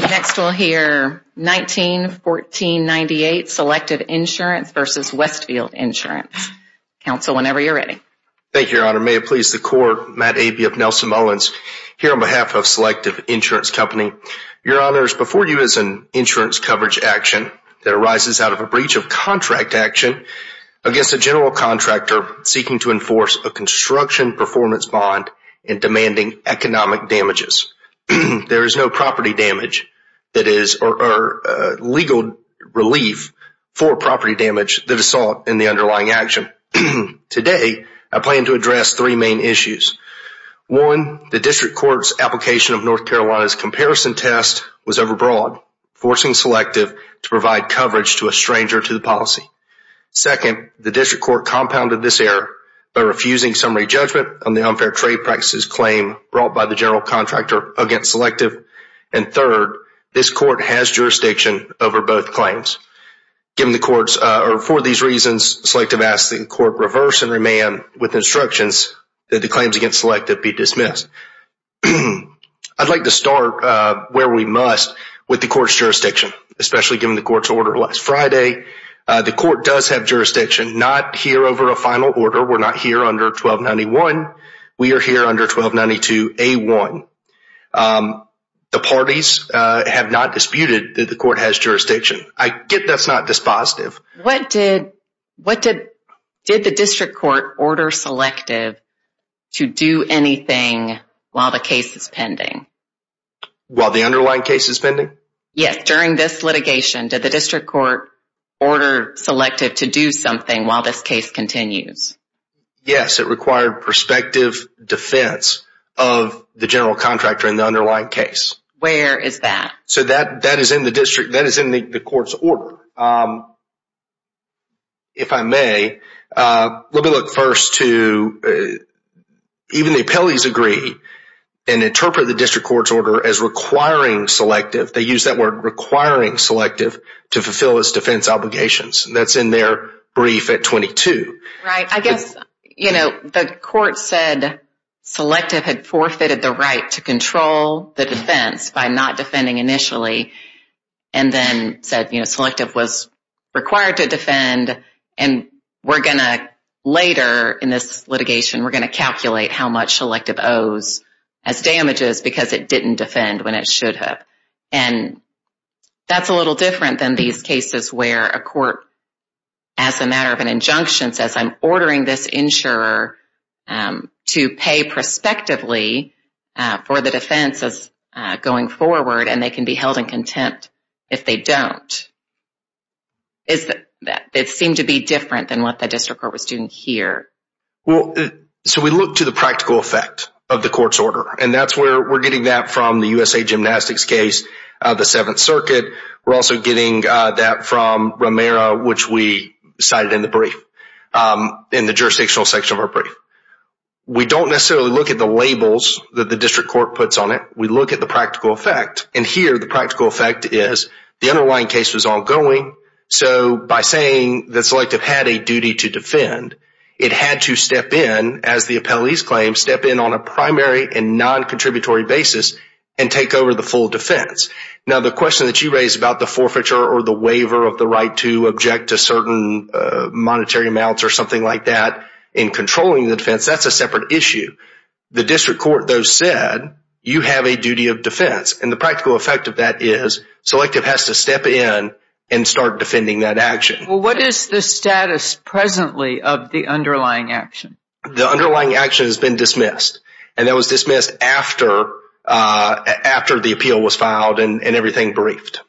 Next we'll hear 1914-98 Selective Insurance v. Westfield Insurance. Counsel, whenever you're ready. Thank you, Your Honor. May it please the Court, Matt Abey of Nelson Mullins, here on behalf of Selective Insurance Company. Your Honors, before you is an insurance coverage action that arises out of a breach of contract action against a general contractor seeking to enforce a construction performance bond and demanding economic damages. There is no legal relief for property damage that is sought in the underlying action. Today, I plan to address three main issues. One, the District Court's application of North Carolina's comparison test was overbroad, forcing Selective to provide coverage to a stranger to the policy. Second, the District Court compounded this error by refusing summary judgment on the against Selective. And third, this Court has jurisdiction over both claims. For these reasons, Selective asks that the Court reverse and remand with instructions that the claims against Selective be dismissed. I'd like to start where we must with the Court's jurisdiction, especially given the Court's order last Friday. The Court does have jurisdiction, not here over a final order. We're not here under 1291. We are here under 1292A1. The parties have not disputed that the Court has jurisdiction. I get that's not dispositive. What did the District Court order Selective to do anything while the case is pending? While the underlying case is pending? Yes. During this litigation, did the District Court order Selective to do something while this case continues? Yes, it required prospective defense of the general contractor in the underlying case. Where is that? So that is in the District, that is in the Court's order. If I may, let me look first to even the appellees agree and interpret the District Court's order as requiring Selective. They use that word requiring Selective to fulfill its defense obligations. That's in their brief at 22. Right. I guess, you know, the Court said Selective had forfeited the right to control the defense by not defending initially and then said, you know, Selective was required to defend and we're going to later in this litigation, we're going to calculate how much Selective owes as damages because it didn't defend when it should have. And that's a little different than these cases where a Court, as a matter of an injunction says, I'm ordering this insurer to pay prospectively for the defense as going forward and they can be held in contempt if they don't. It seemed to be different than what the District Court was doing here. Well, so we look to the practical effect of the Court's order and that's where we're getting that from the USA Gymnastics case, the Seventh Circuit. We're also getting that from Romero, which we cited in the brief, in the jurisdictional section of our brief. We don't necessarily look at the labels that the District Court puts on it. We look at the practical effect and here the practical effect is the underlying case was ongoing. So by saying that Selective had a duty to defend, it had to step in as the appellee's claim, step in on a primary and non-contributory basis and take over the full defense. Now the question that you raised about the forfeiture or the waiver of the right to object to certain monetary amounts or something like that in controlling the defense, that's a separate issue. The District Court, though, said you have a duty of defense and the practical effect of that is Selective has to step in and start defending that action. Well, what is the status presently of the underlying action? The underlying action has been dismissed and that was dismissed after the appeal was filed and everything briefed.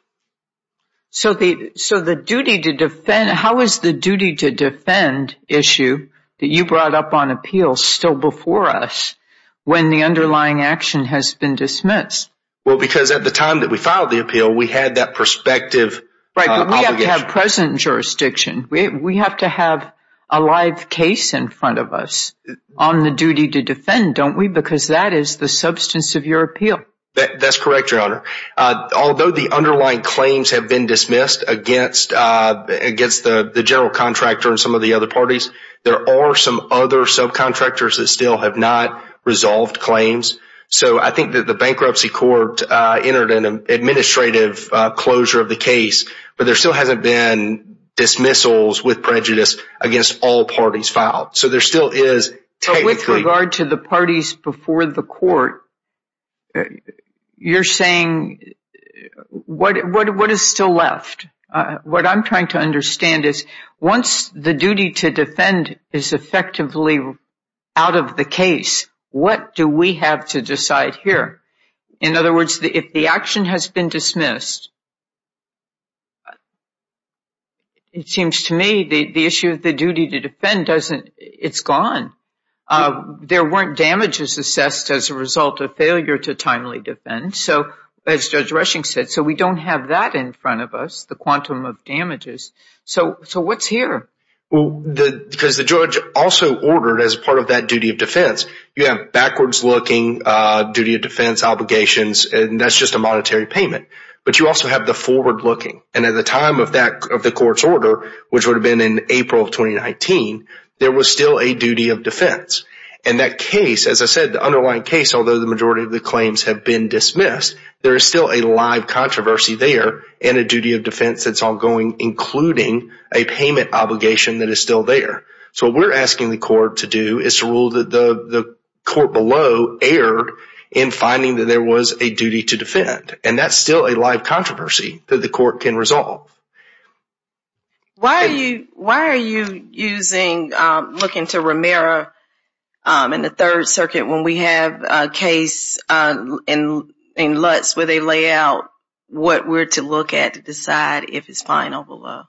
So how is the duty to defend issue that you brought up on appeal still before us when the underlying action has been dismissed? Well, because at the time that we filed the appeal, we had that prospective obligation. Right, but we have to have present jurisdiction. We have to have a live case in front of us on the duty to defend, don't we? Because that is the substance of your appeal. That's correct, Your Honor. Although the underlying claims have been dismissed against the general contractor and some of the other parties, there are some other subcontractors that still have not resolved claims. So I think that the bankruptcy court entered an administrative closure of the case, but there still hasn't been dismissals with prejudice against all parties filed. So there still is technically... But with regard to the parties before the court, you're saying what is still left? What I'm trying to understand is once the duty to defend is effectively out of the case, what do we have to decide here? In other words, if the action has been dismissed, it seems to me the issue of the duty to defend doesn't... It's gone. There weren't damages assessed as a result of failure to timely defend, so as Judge Rushing said, so we don't have that in front of us, the quantum of damages. So what's here? Because the judge also ordered as part of that duty of defense, you have backwards-looking duty of defense obligations, and that's just a monetary payment, but you also have the forward-looking. And at the time of the court's order, which would have been in April of 2019, there was still a duty of defense. And that case, as I said, the underlying case, although the majority of the claims have been dismissed, there is still a live controversy there and a duty of defense that's ongoing, including a payment obligation that is still there. So what we're asking the court to do is to rule that the court below erred in finding that there was a duty to defend, and that's still a live controversy that the court can resolve. Why are you looking to Romero in the Third Circuit when we have a case in Lutz where they lay out what we're to look at to decide if it's fine or below?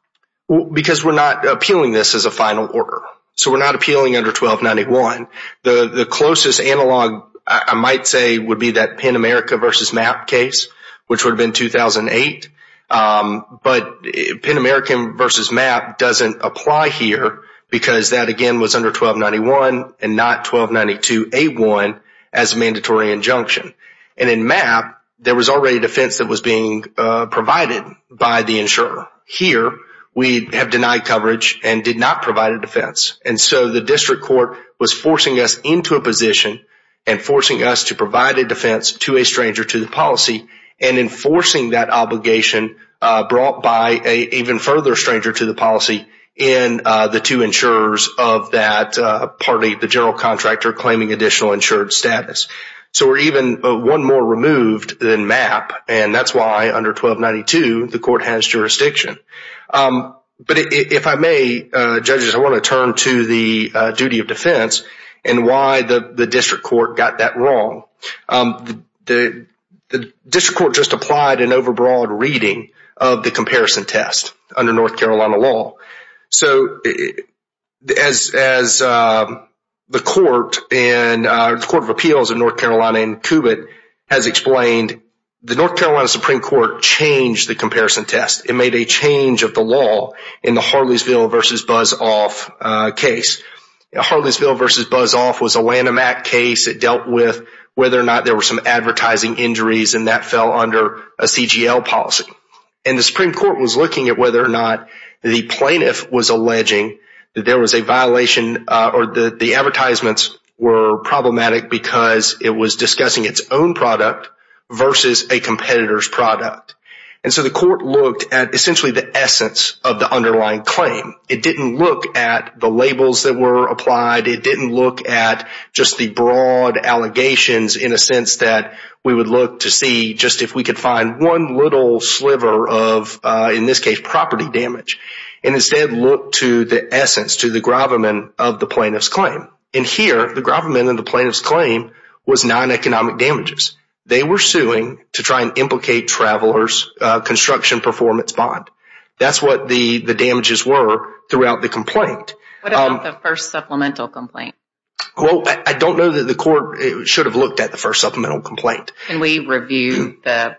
Because we're not appealing this as a final order. So we're not appealing under 1291. The closest analog, I might say, would be that Pen America versus MAP case, which would have been 2008. But Pen American versus MAP doesn't apply here because that, again, was under 1291 and not 1292A1 as a mandatory injunction. And in MAP, there was already a defense that was being provided by the insurer. Here, we have denied coverage and did not provide a defense. And so the district court was forcing us into a position and forcing us to provide a defense to a stranger to the policy and enforcing that obligation brought by an even further stranger to the policy in the two insurers of that party, the general contractor claiming additional insured status. So we're even one more moved than MAP. And that's why under 1292, the court has jurisdiction. But if I may, judges, I want to turn to the duty of defense and why the district court got that wrong. The district court just applied an overbroad reading of the comparison test under North Carolina law. So as the court and the Court of Appeals of North Carolina and CUBIT has explained, the North Carolina Supreme Court changed the comparison test. It made a change of the law in the Harleysville versus Buzz Off case. Harleysville versus Buzz Off was a Lanham Act case that dealt with whether or not there were some advertising injuries and that fell under a CGL policy. And the Supreme Court was looking at the plaintiff was alleging that there was a violation or that the advertisements were problematic because it was discussing its own product versus a competitor's product. And so the court looked at essentially the essence of the underlying claim. It didn't look at the labels that were applied. It didn't look at just the broad allegations in a sense that we would to see just if we could find one little sliver of, in this case, property damage and instead look to the essence, to the gravamen of the plaintiff's claim. And here, the gravamen of the plaintiff's claim was non-economic damages. They were suing to try and implicate travelers construction performance bond. That's what the damages were throughout the complaint. What about the first supplemental complaint? Well, I don't know that the court should have looked at the first review, the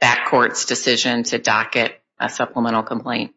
back court's decision to docket a supplemental complaint.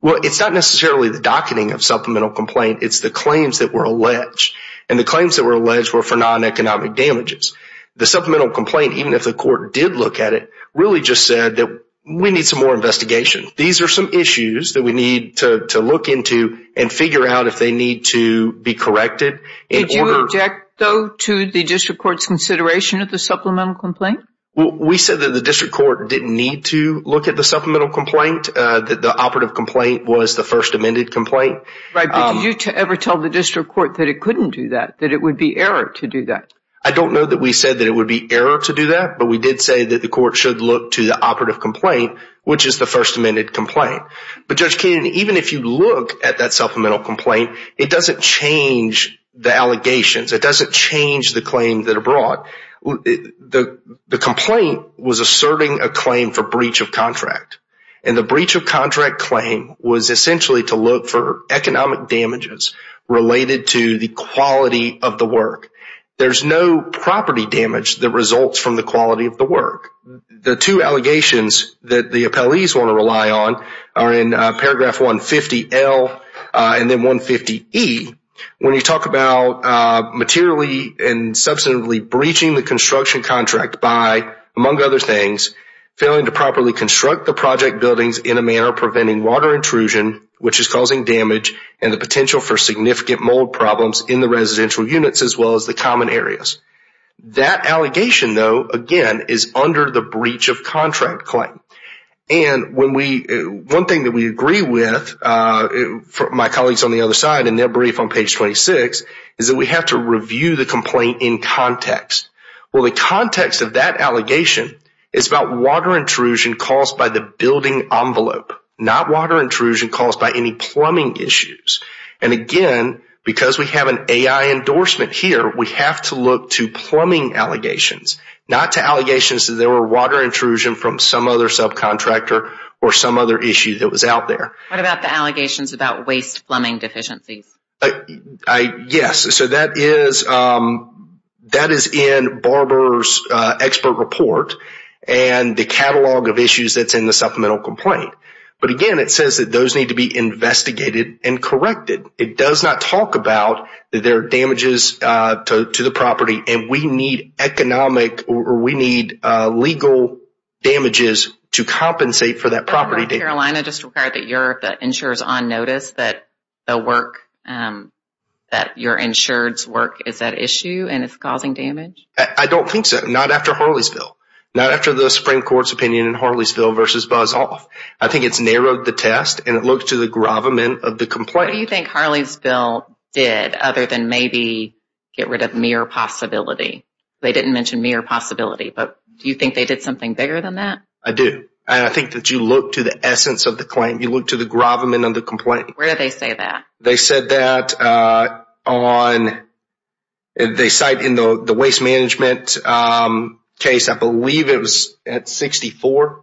Well, it's not necessarily the docketing of supplemental complaint. It's the claims that were alleged and the claims that were alleged were for non-economic damages. The supplemental complaint, even if the court did look at it, really just said that we need some more investigation. These are some issues that we need to look into and figure out if they need to be corrected. Did you object though to the district court's consideration of the supplemental complaint? We said that the district court didn't need to look at the supplemental complaint, that the operative complaint was the first amended complaint. Did you ever tell the district court that it couldn't do that, that it would be error to do that? I don't know that we said that it would be error to do that, but we did say that the court should look to the operative complaint, which is the first amended complaint. But Judge Keenan, even if you look at that supplemental complaint, it doesn't change the allegations. It doesn't change the claims that are brought. The complaint was asserting a claim for breach of contract. And the breach of contract claim was essentially to look for economic damages related to the quality of the work. There's no property damage that results from the quality of the work. The two allegations that the appellees want to rely on are in paragraph 150L and then 150E, when you talk about materially and substantively breaching the construction contract by, among other things, failing to properly construct the project buildings in a manner preventing water intrusion, which is causing damage and the potential for significant mold problems in the residential units as well as the common areas. That allegation though, again, is under the breach of contract claim. And one thing that we agree with, my colleagues on the other side in their brief on page 26, is that we have to review the complaint in context. Well, the context of that allegation is about water intrusion caused by the building envelope, not water intrusion caused by any plumbing issues. And again, because we have an AI endorsement here, we have to look to plumbing allegations, not to allegations that there were water intrusion from some other subcontractor or some other issue that was out there. What about the allegations about waste plumbing deficiencies? Yes, so that is in Barber's expert report and the catalog of issues that's in the supplemental complaint. But again, it says that those need to be investigated and corrected. It does not talk about that there are damages to the property and we need economic or we need legal damages to compensate for that property damage. Carolina just required that you're the insurers on notice that the work, that your insured's work is at issue and it's causing damage? I don't think so. Not after Harleysville. Not after the Supreme Court's opinion in Harleysville versus Buzz Off. I think it's narrowed the test and it looks to the gravamen of the complaint. What do you think Harleysville did other than maybe get rid of mere possibility? They didn't mention mere possibility, but do you think they did something bigger than that? I do. And I think that you look to the essence of the claim. You look to the gravamen of the complaint. Where do they say that? They said that on, they cite in the waste management case, I believe it was at 64.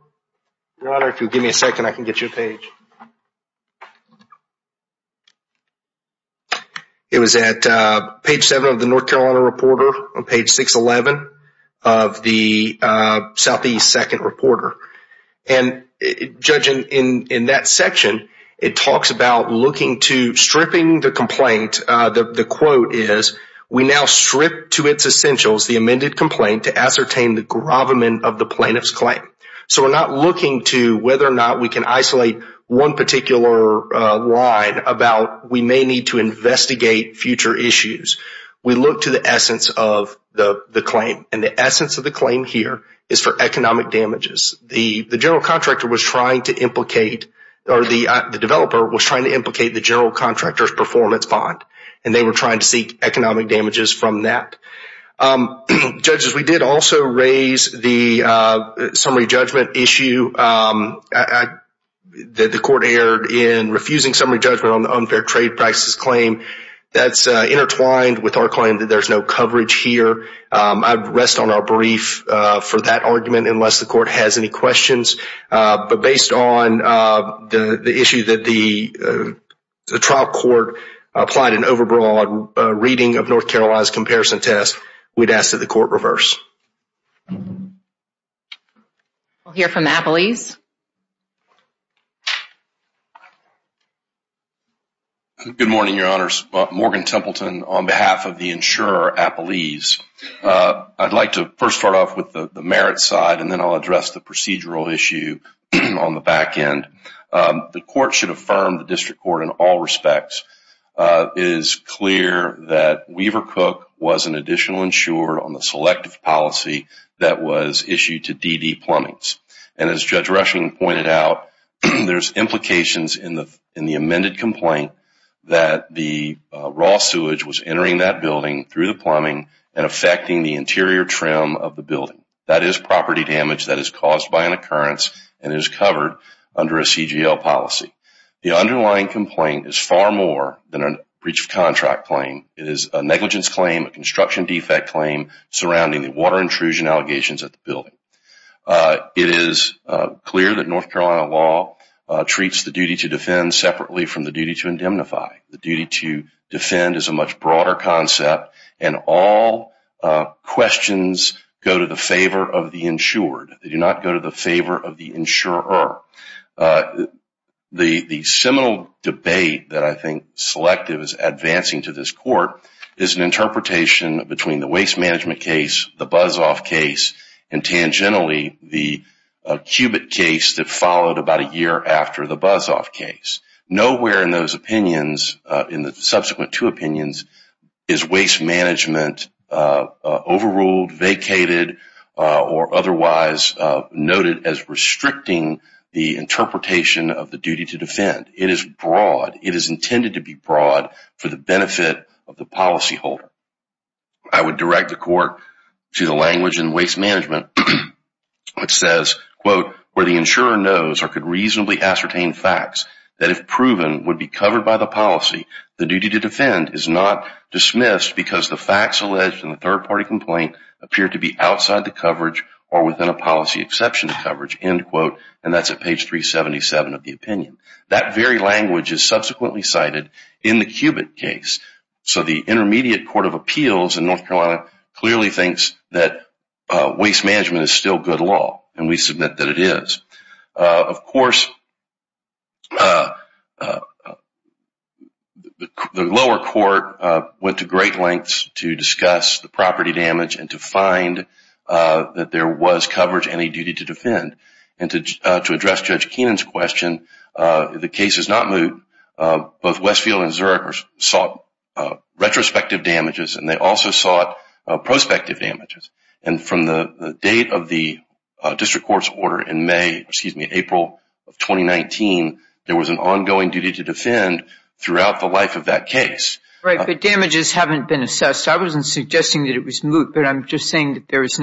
Your Honor, if you'll give me a second, I can get you a page. It was at page seven of the North Carolina Reporter on page 611 of the Southeast Second Reporter. And judging in that section, it talks about looking to stripping the complaint. The quote is, we now strip to its essentials the amended complaint to ascertain the gravamen of the plaintiff's claim. So we're not looking to whether or not we can isolate one particular line about we may need to investigate future issues. We look to the essence of the claim. And the essence of the claim here is for economic damages. The general contractor was trying to implicate, or the developer was trying to implicate the general contractor's performance bond. And they were trying to seek economic damages from that. Um, judges, we did also raise the summary judgment issue that the court aired in refusing summary judgment on the unfair trade practices claim. That's intertwined with our claim that there's no coverage here. I'd rest on our brief for that argument unless the court has any questions. But based on the issue that the trial court applied an overbroad reading of North we'd ask that the court reverse. We'll hear from Appalese. Good morning, your honors. Morgan Templeton on behalf of the insurer Appalese. I'd like to first start off with the merit side and then I'll address the procedural issue on the back end. The court should affirm the district court in all respects is clear that Weaver Cook was an insurer on the selective policy that was issued to DD Plumbings. And as Judge Rushing pointed out, there's implications in the amended complaint that the raw sewage was entering that building through the plumbing and affecting the interior trim of the building. That is property damage that is caused by an occurrence and is covered under a CGL policy. The underlying complaint is than a breach of contract claim. It is a negligence claim, a construction defect claim surrounding the water intrusion allegations at the building. It is clear that North Carolina law treats the duty to defend separately from the duty to indemnify. The duty to defend is a much broader concept and all questions go to the favor of the insured. They do not go to the selective. It is an interpretation between the waste management case, the buzz off case, and tangentially the cubit case that followed about a year after the buzz off case. Nowhere in those opinions, in the subsequent two opinions, is waste management overruled, vacated, or otherwise noted as restricting the interpretation of the duty to defend. It is intended to be broad for the benefit of the policyholder. I would direct the court to the language in waste management that says, where the insurer knows or could reasonably ascertain facts that if proven would be covered by the policy, the duty to defend is not dismissed because the facts alleged in the third party complaint appear to be outside the coverage or within a policy exception to coverage. That is at page 377 of the opinion. That very language is subsequently cited in the cubit case. So the intermediate court of appeals in North Carolina clearly thinks that waste management is still good law and we submit that it is. Of course, the lower court went to great lengths to discuss the property damage and to find that there was coverage and a duty to defend. To address Judge Keenan's question, the case is not moot. Both Westfield and Zurich sought retrospective damages and they also sought prospective damages. From the date of the district court's order in April of 2019, there was an ongoing duty to defend throughout the life of that case. Right, but damages haven't been assessed. I wasn't suggesting that it was moot, but I'm just saying that there is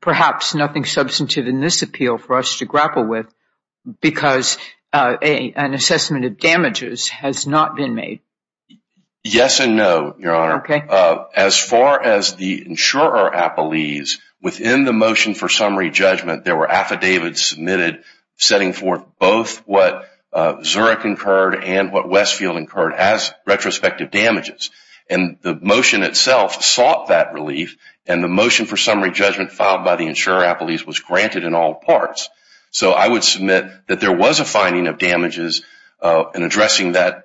perhaps nothing substantive in this appeal for us to grapple with because an assessment of damages has not been made. Yes and no, Your Honor. As far as the insurer appellees, within the motion for summary judgment, there were affidavits submitted setting forth both what Zurich incurred and what Westfield incurred as retrospective damages. The motion itself sought that relief and the motion for summary judgment filed by the insurer appellees was granted in all parts. So, I would submit that there was a finding of damages in addressing that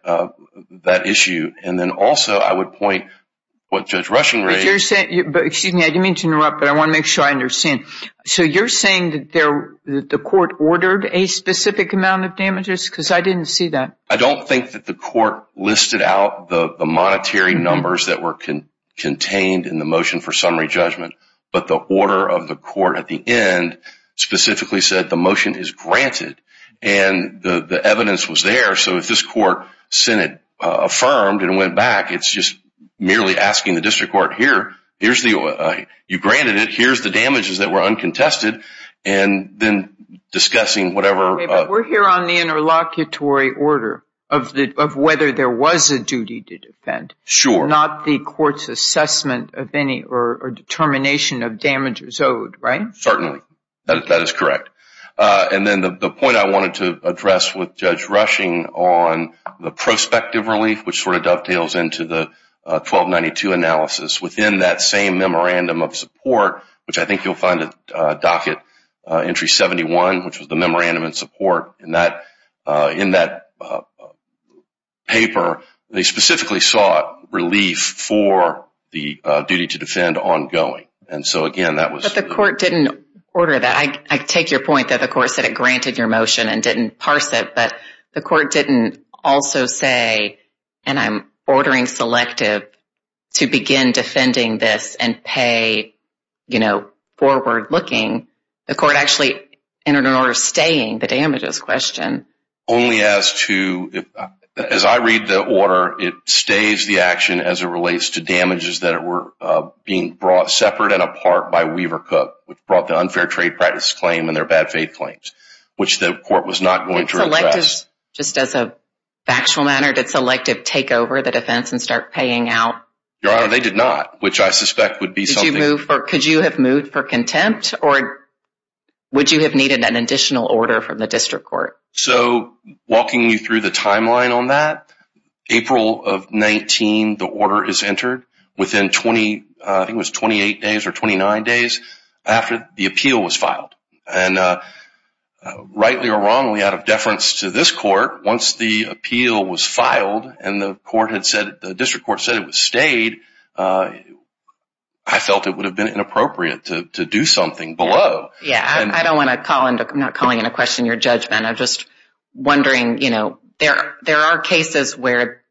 issue. Also, I would point what Judge Rushing raised. Excuse me, I didn't mean to interrupt, but I want to make sure I understand. So, you're saying that the court ordered a specific amount of damages because I didn't see that? I don't think that the court listed out the monetary numbers that were contained in the motion for summary judgment, but the order of the court at the end specifically said the motion is granted and the evidence was there. So, if this court sent it affirmed and went back, it's just merely asking the district court, here, you granted it, here's the damages that were uncontested, and then discussing whatever... Okay, but we're here on the interlocutory order of whether there was a duty to defend. Sure. Not the court's assessment of any or determination of damages owed, right? Certainly. That is correct. And then the point I wanted to address with Judge Rushing on the prospective relief, which sort of dovetails into the 1292 analysis, within that same memorandum of support, which I think you'll find at docket entry 71, which was the memorandum in support, in that paper, they specifically sought relief for the duty to defend ongoing. And so, again, that was... But the court didn't order that. I take your point that the court said it granted your motion and didn't parse it, but the court didn't also say, and I'm ordering selective, to begin defending this and pay, you know, forward-looking. The court actually entered an order staying the damages question. Only as to... As I read the order, it stays the action as it relates to damages that were being brought separate and apart by Weaver Cook, which brought the unfair trade practice claim and their bad faith claims, which the court was not going to address. Just as a factual matter, did selective take over the defense and start paying out? Your Honor, they did not, which I suspect would be something... Could you have moved for contempt or would you have needed an additional order from the district court? So, walking you through the timeline on that, April of 19, the order is entered within 20, I think it was 28 days or 29 days after the appeal was filed. And rightly or wrongly, out of deference to this court, once the appeal was filed and the court had said, the district court said it was stayed, I felt it would have been inappropriate to do something below. Yeah, I don't want to call into... I'm not calling into question your judgment. I'm just wondering, you know, there are cases where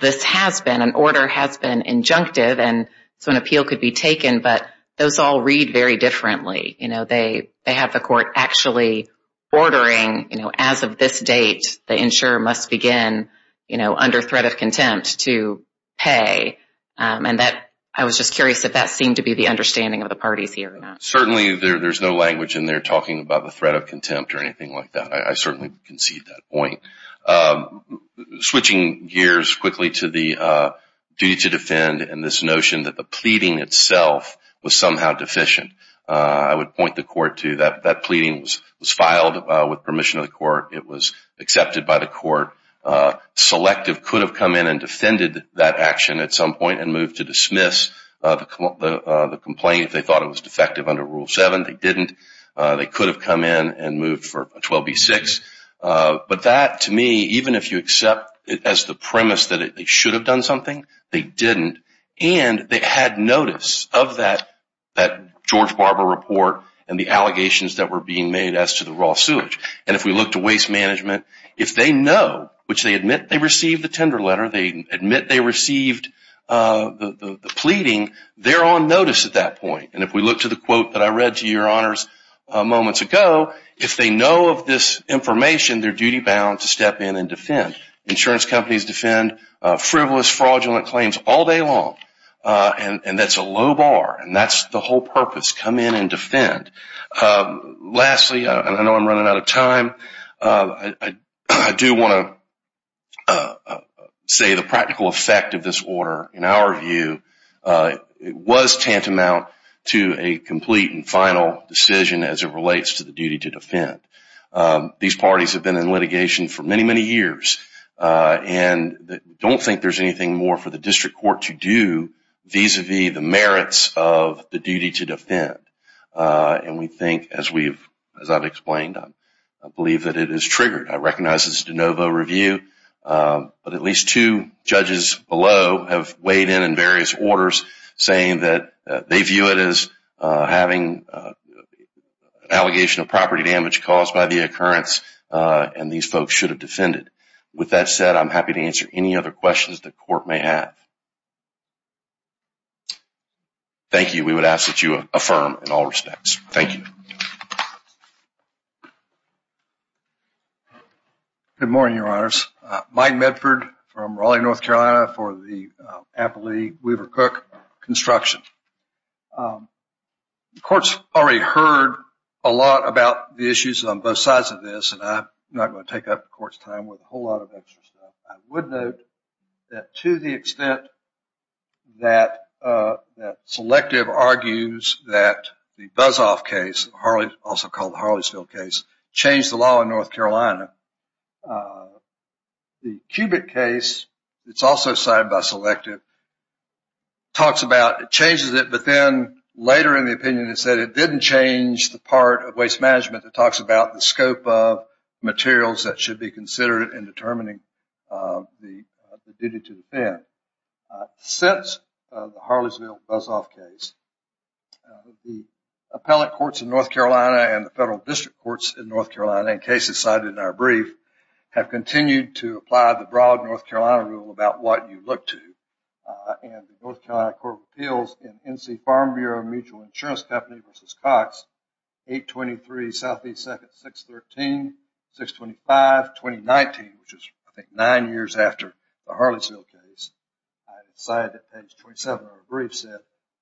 this has been, an order has been injunctive and so an appeal could be taken, but those all read very differently. You know, they have the court actually ordering, you know, as of this date, the insurer must begin, you know, under threat of contempt to pay. And that, I was just curious if that seemed to be the understanding of the parties here or not. Certainly, there's no language in there talking about the threat of contempt or anything like that. I certainly concede that point. Switching gears quickly to the duty to defend and this notion that the pleading itself was somehow deficient. I would point the that pleading was filed with permission of the court. It was accepted by the court. Selective could have come in and defended that action at some point and moved to dismiss the complaint if they thought it was defective under Rule 7. They didn't. They could have come in and moved for 12B6. But that, to me, even if you accept it as the premise that they should have done something, they didn't. And they had notice of that George Barber report and the allegations that were being made as to the raw sewage. And if we look to waste management, if they know, which they admit they received the tender letter, they admit they received the pleading, they're on notice at that point. And if we look to the quote that I read to your honors moments ago, if they know of this information, they're duty bound to step in and defend. Insurance companies defend frivolous, fraudulent claims all day long. And that's a low bar. And that's the whole purpose. Come in and defend. Lastly, I know I'm running out of time. I do want to say the practical effect of this order, in our view, was tantamount to a complete and final decision as it relates to the duty to defend. These parties have been in litigation for many, many years and don't think there's anything more for the district court to do vis-a-vis the merits of the duty to defend. And we think, as I've explained, I believe that it is triggered. I recognize it's a de novo review, but at least two judges below have weighed in on various orders saying that they view it as having an allegation of property damage caused by the occurrence and these folks should have defended. With that said, I'm happy to answer any other questions the court may have. Thank you. We would ask that you affirm in all respects. Thank you. Good morning, your honors. Mike Medford from Raleigh, North Carolina for the Applee-Weaver Cook construction. The court's already heard a lot about the issues on both sides of this, and I'm not going to take up the court's time with a whole lot of extra stuff. I would note that to the extent that Selective argues that the Buzoff case, also called the Harleysville case, changed the law in North Carolina, the Cubitt case, it's also signed by Selective, talks about it changes it, but then later in the opinion it said it didn't change the part that talks about the scope of materials that should be considered in determining the duty to defend. Since the Harleysville Buzoff case, the appellate courts in North Carolina and the federal district courts in North Carolina, in cases cited in our brief, have continued to apply the broad North Carolina rule about what you look to, and the North Carolina Court of Appeals.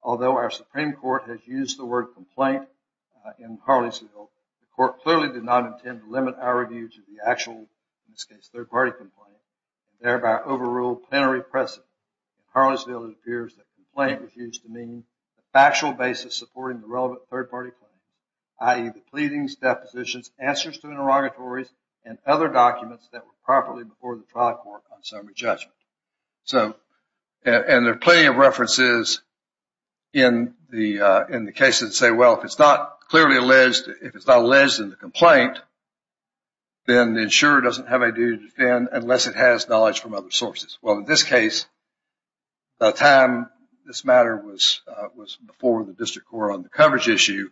Although our Supreme Court has used the word complaint in Harleysville, the court clearly did not intend to limit our review to the actual, in this case, third-party complaint, and thereby overrule plenary precedent. In Harleysville, it appears that complaint refused to mean a factual basis supporting the relevant third-party claim, i.e. the pleadings, depositions, answers to interrogatories, and other documents that were properly before the trial court on summary judgment. So, and there are plenty of references in the cases that say, well, if it's not clearly alleged, if it's not alleged in the complaint, then the insurer doesn't have a duty to defend unless it has knowledge from other sources. Well, in this case, by the time this matter was before the district court on the coverage issue,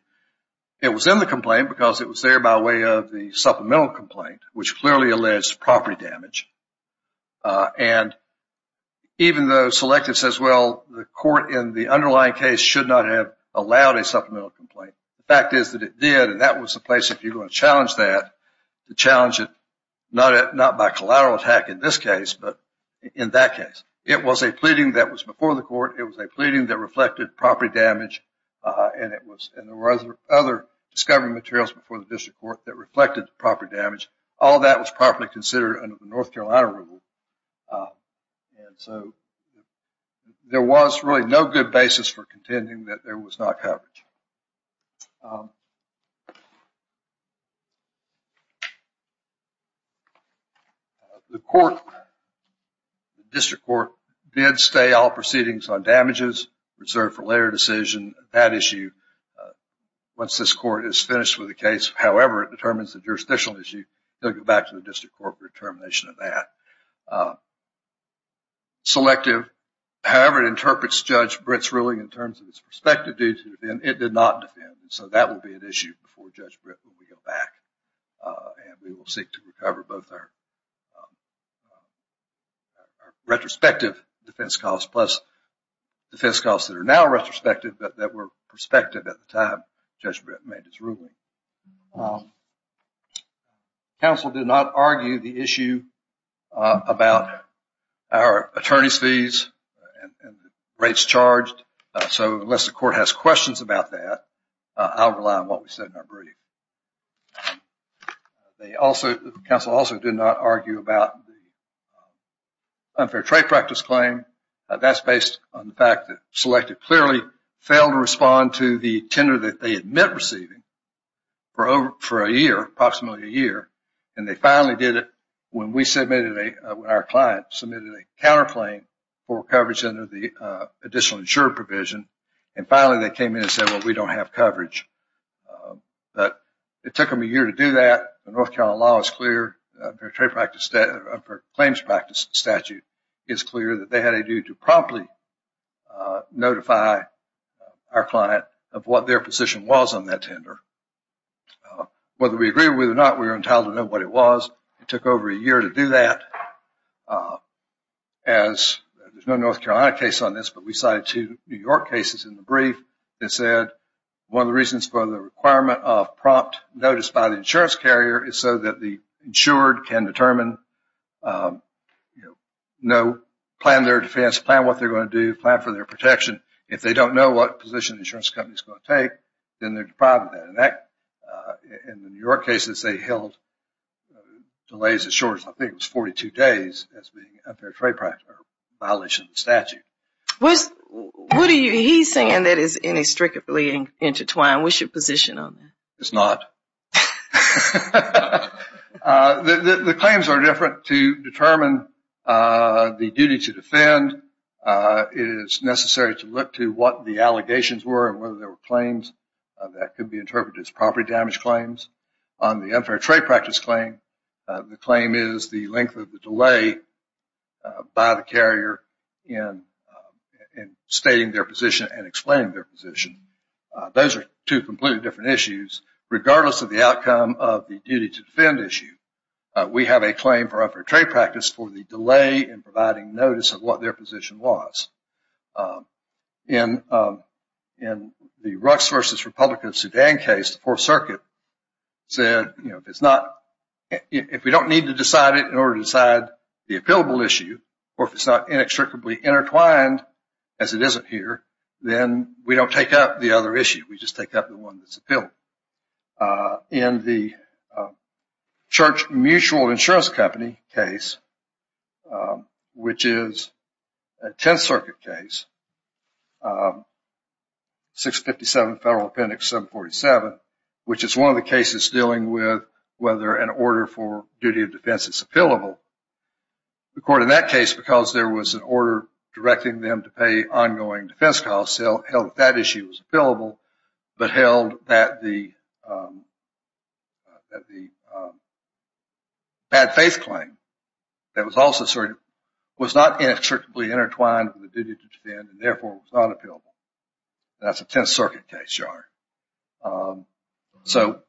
it was in the complaint because it was there by way of the supplemental complaint, which clearly alleged property damage. And even though Selective says, well, the court in the underlying case should not have allowed a supplemental complaint, the fact is that it did, and that was the place, if you're going to challenge that, to challenge it not by collateral attack in this case, but in that case. It was a pleading that was before the court, it was a pleading that reflected property damage, and there were other discovery materials before the district court that reflected property damage. All that was properly considered under the North Carolina rule. And so, there was really no good basis for contending that there was not coverage. The court, the district court, did stay all proceedings on damages reserved for later decision. That issue, once this court is finished with the case, however it determines the jurisdictional issue, they'll go back to the district court for determination of that. Selective, however it interprets Judge Britt's ruling in terms of its perspective due to it being, it did not defend, and so that will be an issue before Judge Britt when we go back, and we will seek to recover both our retrospective defense costs plus defense costs that are now retrospective but that were prospective at the time Judge Britt made his ruling. Counsel did not argue the issue about our attorney's fees and rates charged, so unless the court has questions about that, I'll rely on what we said in our brief. They also, counsel also did not argue about the unfair trade practice claim. That's based on the fact that Selective clearly failed to respond to the tender that they had met receiving for a year, approximately a year, and they finally did it when we submitted a, when our client submitted a counterclaim for coverage under the additional insured provision, and finally they came in and said, well we don't have coverage, but it took them a year to do that. The North Carolina law is clear, fair trade practice, claims practice statute is clear that they had a duty to promptly notify our client of what their position was on that tender. Whether we agree with it or not, we are entitled to know what it was. It took over a year to do that. There's no North Carolina case on this, but we cited two New York cases in the brief that said one of the reasons for the requirement of prompt notice by the insurance carrier is so that the insured can determine, plan their defense, plan what they're going to do, plan for their protection. If they don't know what position the insurance company is going to take, then they're deprived of that. In the New York cases, they held delays as short as I think it was 42 days as being a fair trade practice violation of the statute. He's saying that it's inextricably intertwined. What's your position on that? It's not. The claims are different to determine the duty to defend. It is necessary to look to what the allegations were and whether there were claims that could be interpreted as property damage claims. On the unfair trade practice claim, the claim is the length of the delay by the carrier in stating their position and explaining their position. Those are two completely different issues regardless of the outcome of the duty to defend issue. We have a claim for unfair trade practice for the delay in providing notice of what their position was. In the Rucks v. Republican of Sudan case, the Fourth Circuit said if we don't need to decide it in order to decide the appealable issue or if it's not inextricably intertwined as it is up here, then we don't take up the other issue. We just take up the one that's appealed. In the Church Mutual Insurance Company case, which is a Tenth Circuit case, 657 Federal Appendix 747, which is one of the cases dealing with whether an order for duty of defense is appealable. The court in that case, because there was an order directing them to pay ongoing defense costs, held that issue was appealable but held that the bad faith claim that was also asserted was not inextricably intertwined with the duty to defend and therefore was not appealable. That's a Tenth Circuit case, John. So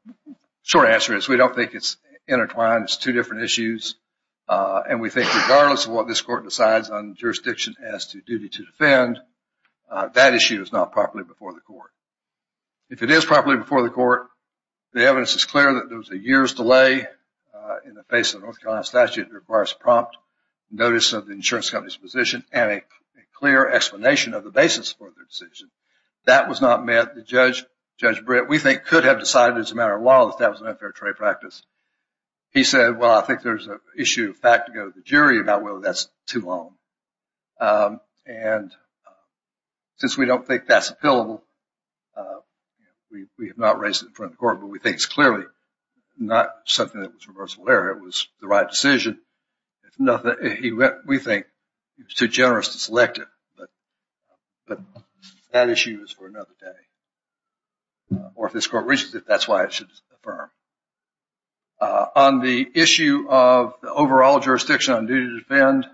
short answer is we don't think it's intertwined. It's two different issues. And we think regardless of what this court decides on jurisdiction as to duty to defend, that issue is not properly before the court. If it is properly before the court, the evidence is clear that there was a year's delay in the face of the North Carolina statute that requires prompt notice of the insurance company's position and a clear explanation of the basis for their decision. That was not met. Judge Britt, we think, could have decided as a matter of law to establish an unfair trade practice. He said, well, I think there's an issue of fact to go to the jury about whether that's too long. And since we don't think that's appealable, we have not raised it in front of the court, but we think it's clearly not something that was reversible error. It was the right decision. We think he was too generous to select it, but that issue is for another day. Or if this court reaches it, that's why it should be affirmed. On the issue of the overall jurisdiction on duty to defend,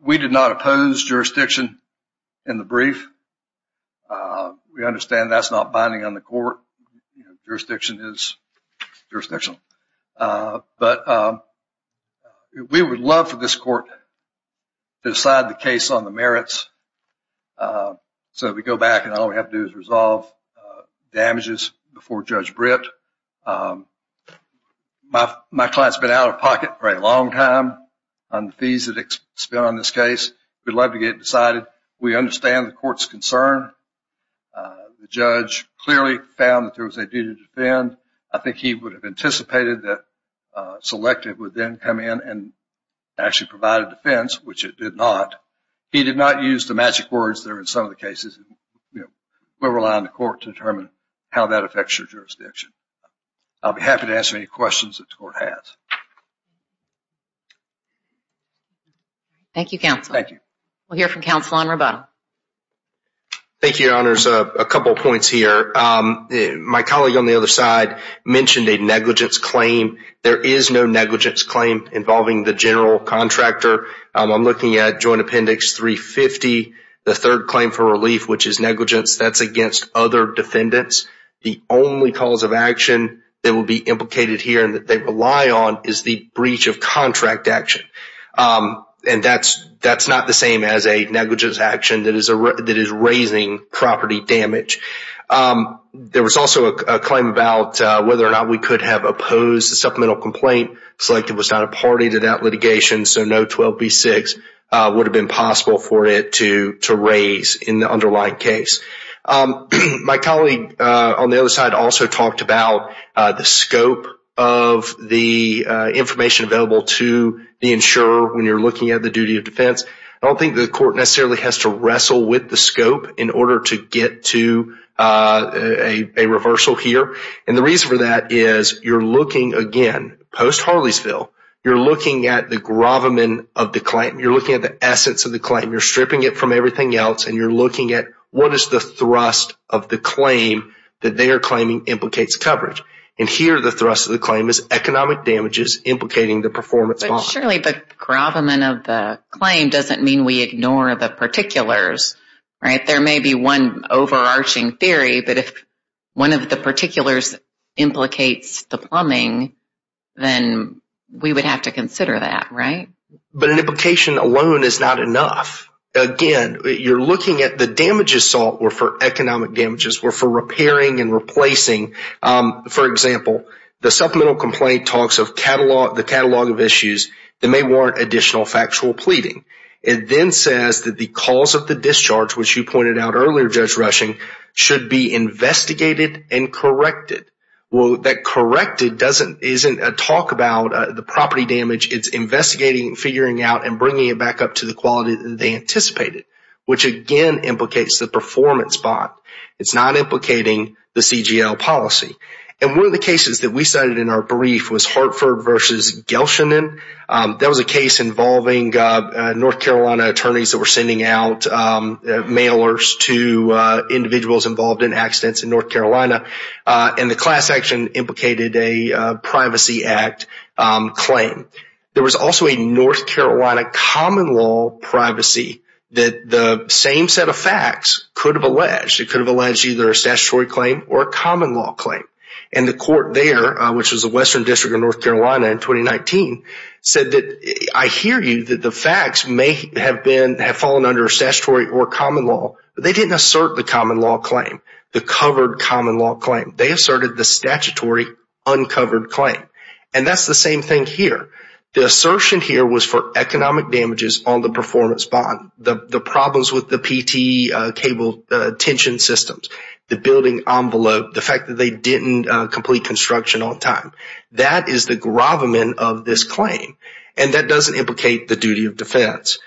we did not oppose jurisdiction in the brief. We understand that's not binding on the court. Jurisdiction is jurisdictional. But we would love for this court to decide the case on the merits so we go back and all we have to do is resolve damages before Judge Britt. My client's been out of pocket for a long time on the fees that expel on this case. We'd love to get it decided. We understand the court's concern. The judge clearly found that there was a duty to defend. I think he would have anticipated that selective would then come in and actually provide a defense, which it did not. He did not use the words that are in some of the cases. We're relying on the court to determine how that affects your jurisdiction. I'll be happy to answer any questions that the court has. My colleague on the other side mentioned a negligence claim. There is no negligence claim involving the general contractor. I'm looking at Joint Appendix 350. The third claim for relief, which is negligence, that's against other defendants. The only cause of action that will be implicated here and that they rely on is the breach of contract action. That's not the same as a negligence action that is raising property damage. There was also a claim about whether or not we could have opposed the supplemental complaint. Selective was not a party to that litigation, so no 12B6 would have been possible for it to raise in the underlying case. My colleague on the other side also talked about the scope of the information available to the insurer when you're looking at the duty of defense. I don't think the court necessarily has to wrestle with the scope in order to get to a reversal here. The reason for is you're looking, again, post-Harleysville. You're looking at the gravamen of the claim. You're looking at the essence of the claim. You're stripping it from everything else and you're looking at what is the thrust of the claim that they are claiming implicates coverage. Here, the thrust of the claim is economic damages implicating the performance bond. Surely the gravamen of the claim doesn't mean we ignore the particulars. There may be one overarching theory, but if one of the particulars implicates the plumbing, then we would have to consider that, right? An implication alone is not enough. Again, you're looking at the damages sought were for economic damages, were for repairing and replacing. For example, the supplemental complaint talks of the catalog of issues that may warrant additional factual pleading. It then says that the cause of the discharge, which you pointed out earlier, Judge Rushing, should be investigated and corrected. That corrected isn't a talk about the property damage. It's investigating and figuring out and bringing it back up to the quality that they anticipated, which, again, implicates the performance bond. It's not implicating the CGL policy. One of the cases that we cited in our brief was Hartford v. Gelshenin. That was a case involving North Carolina attorneys that were sending out mailers to individuals involved in accidents in North Carolina. The class action implicated a privacy act claim. There was also a North Carolina common law privacy that the same set of facts could have alleged. It could have alleged either a statutory claim or a common law claim. The court there, which was the Western District of North Carolina in 2019, said that, I hear you that the facts may have fallen under a statutory or common law, but they didn't assert the common law claim, the covered common law claim. They asserted the statutory uncovered claim. That's the same thing here. The assertion here was for economic damages on the performance bond, the problems with the PT cable tension systems, the building envelope, the fact that they didn't complete construction on time. That is the gravamen of this claim, and that doesn't implicate the duty of defense.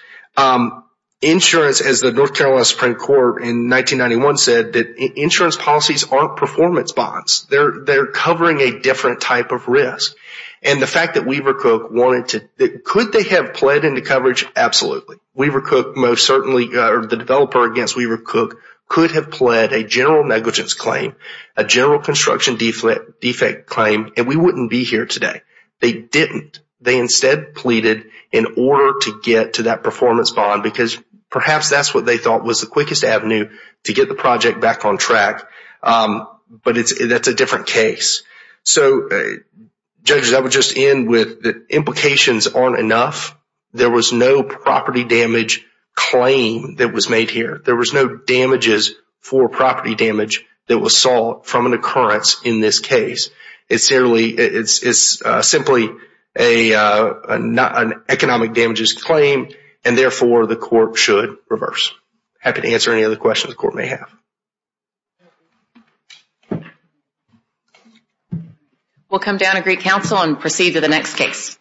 Insurance, as the North Carolina Supreme Court in 1991 said, that insurance policies aren't performance bonds. They're covering a different type of risk. The fact that Weaver Cook wanted to, could they have pled into coverage? Absolutely. Weaver Cook most certainly, or the developer against Weaver Cook, could have pled a general negligence claim, a general construction defect claim, and we wouldn't be here today. They didn't. They instead pleaded in order to get to that performance bond because perhaps that's what they thought was the quickest avenue to get the project back on track, but that's a different case. Judges, I would just end with the implications aren't enough. There was no property damage claim that was made here. There was no damages for property damage that was sought from an occurrence in this case. It's simply an economic damages claim, and therefore the court should reverse. Happy to answer any other questions the court may have. Thank you. We'll come down to Greek Council and proceed to the next case.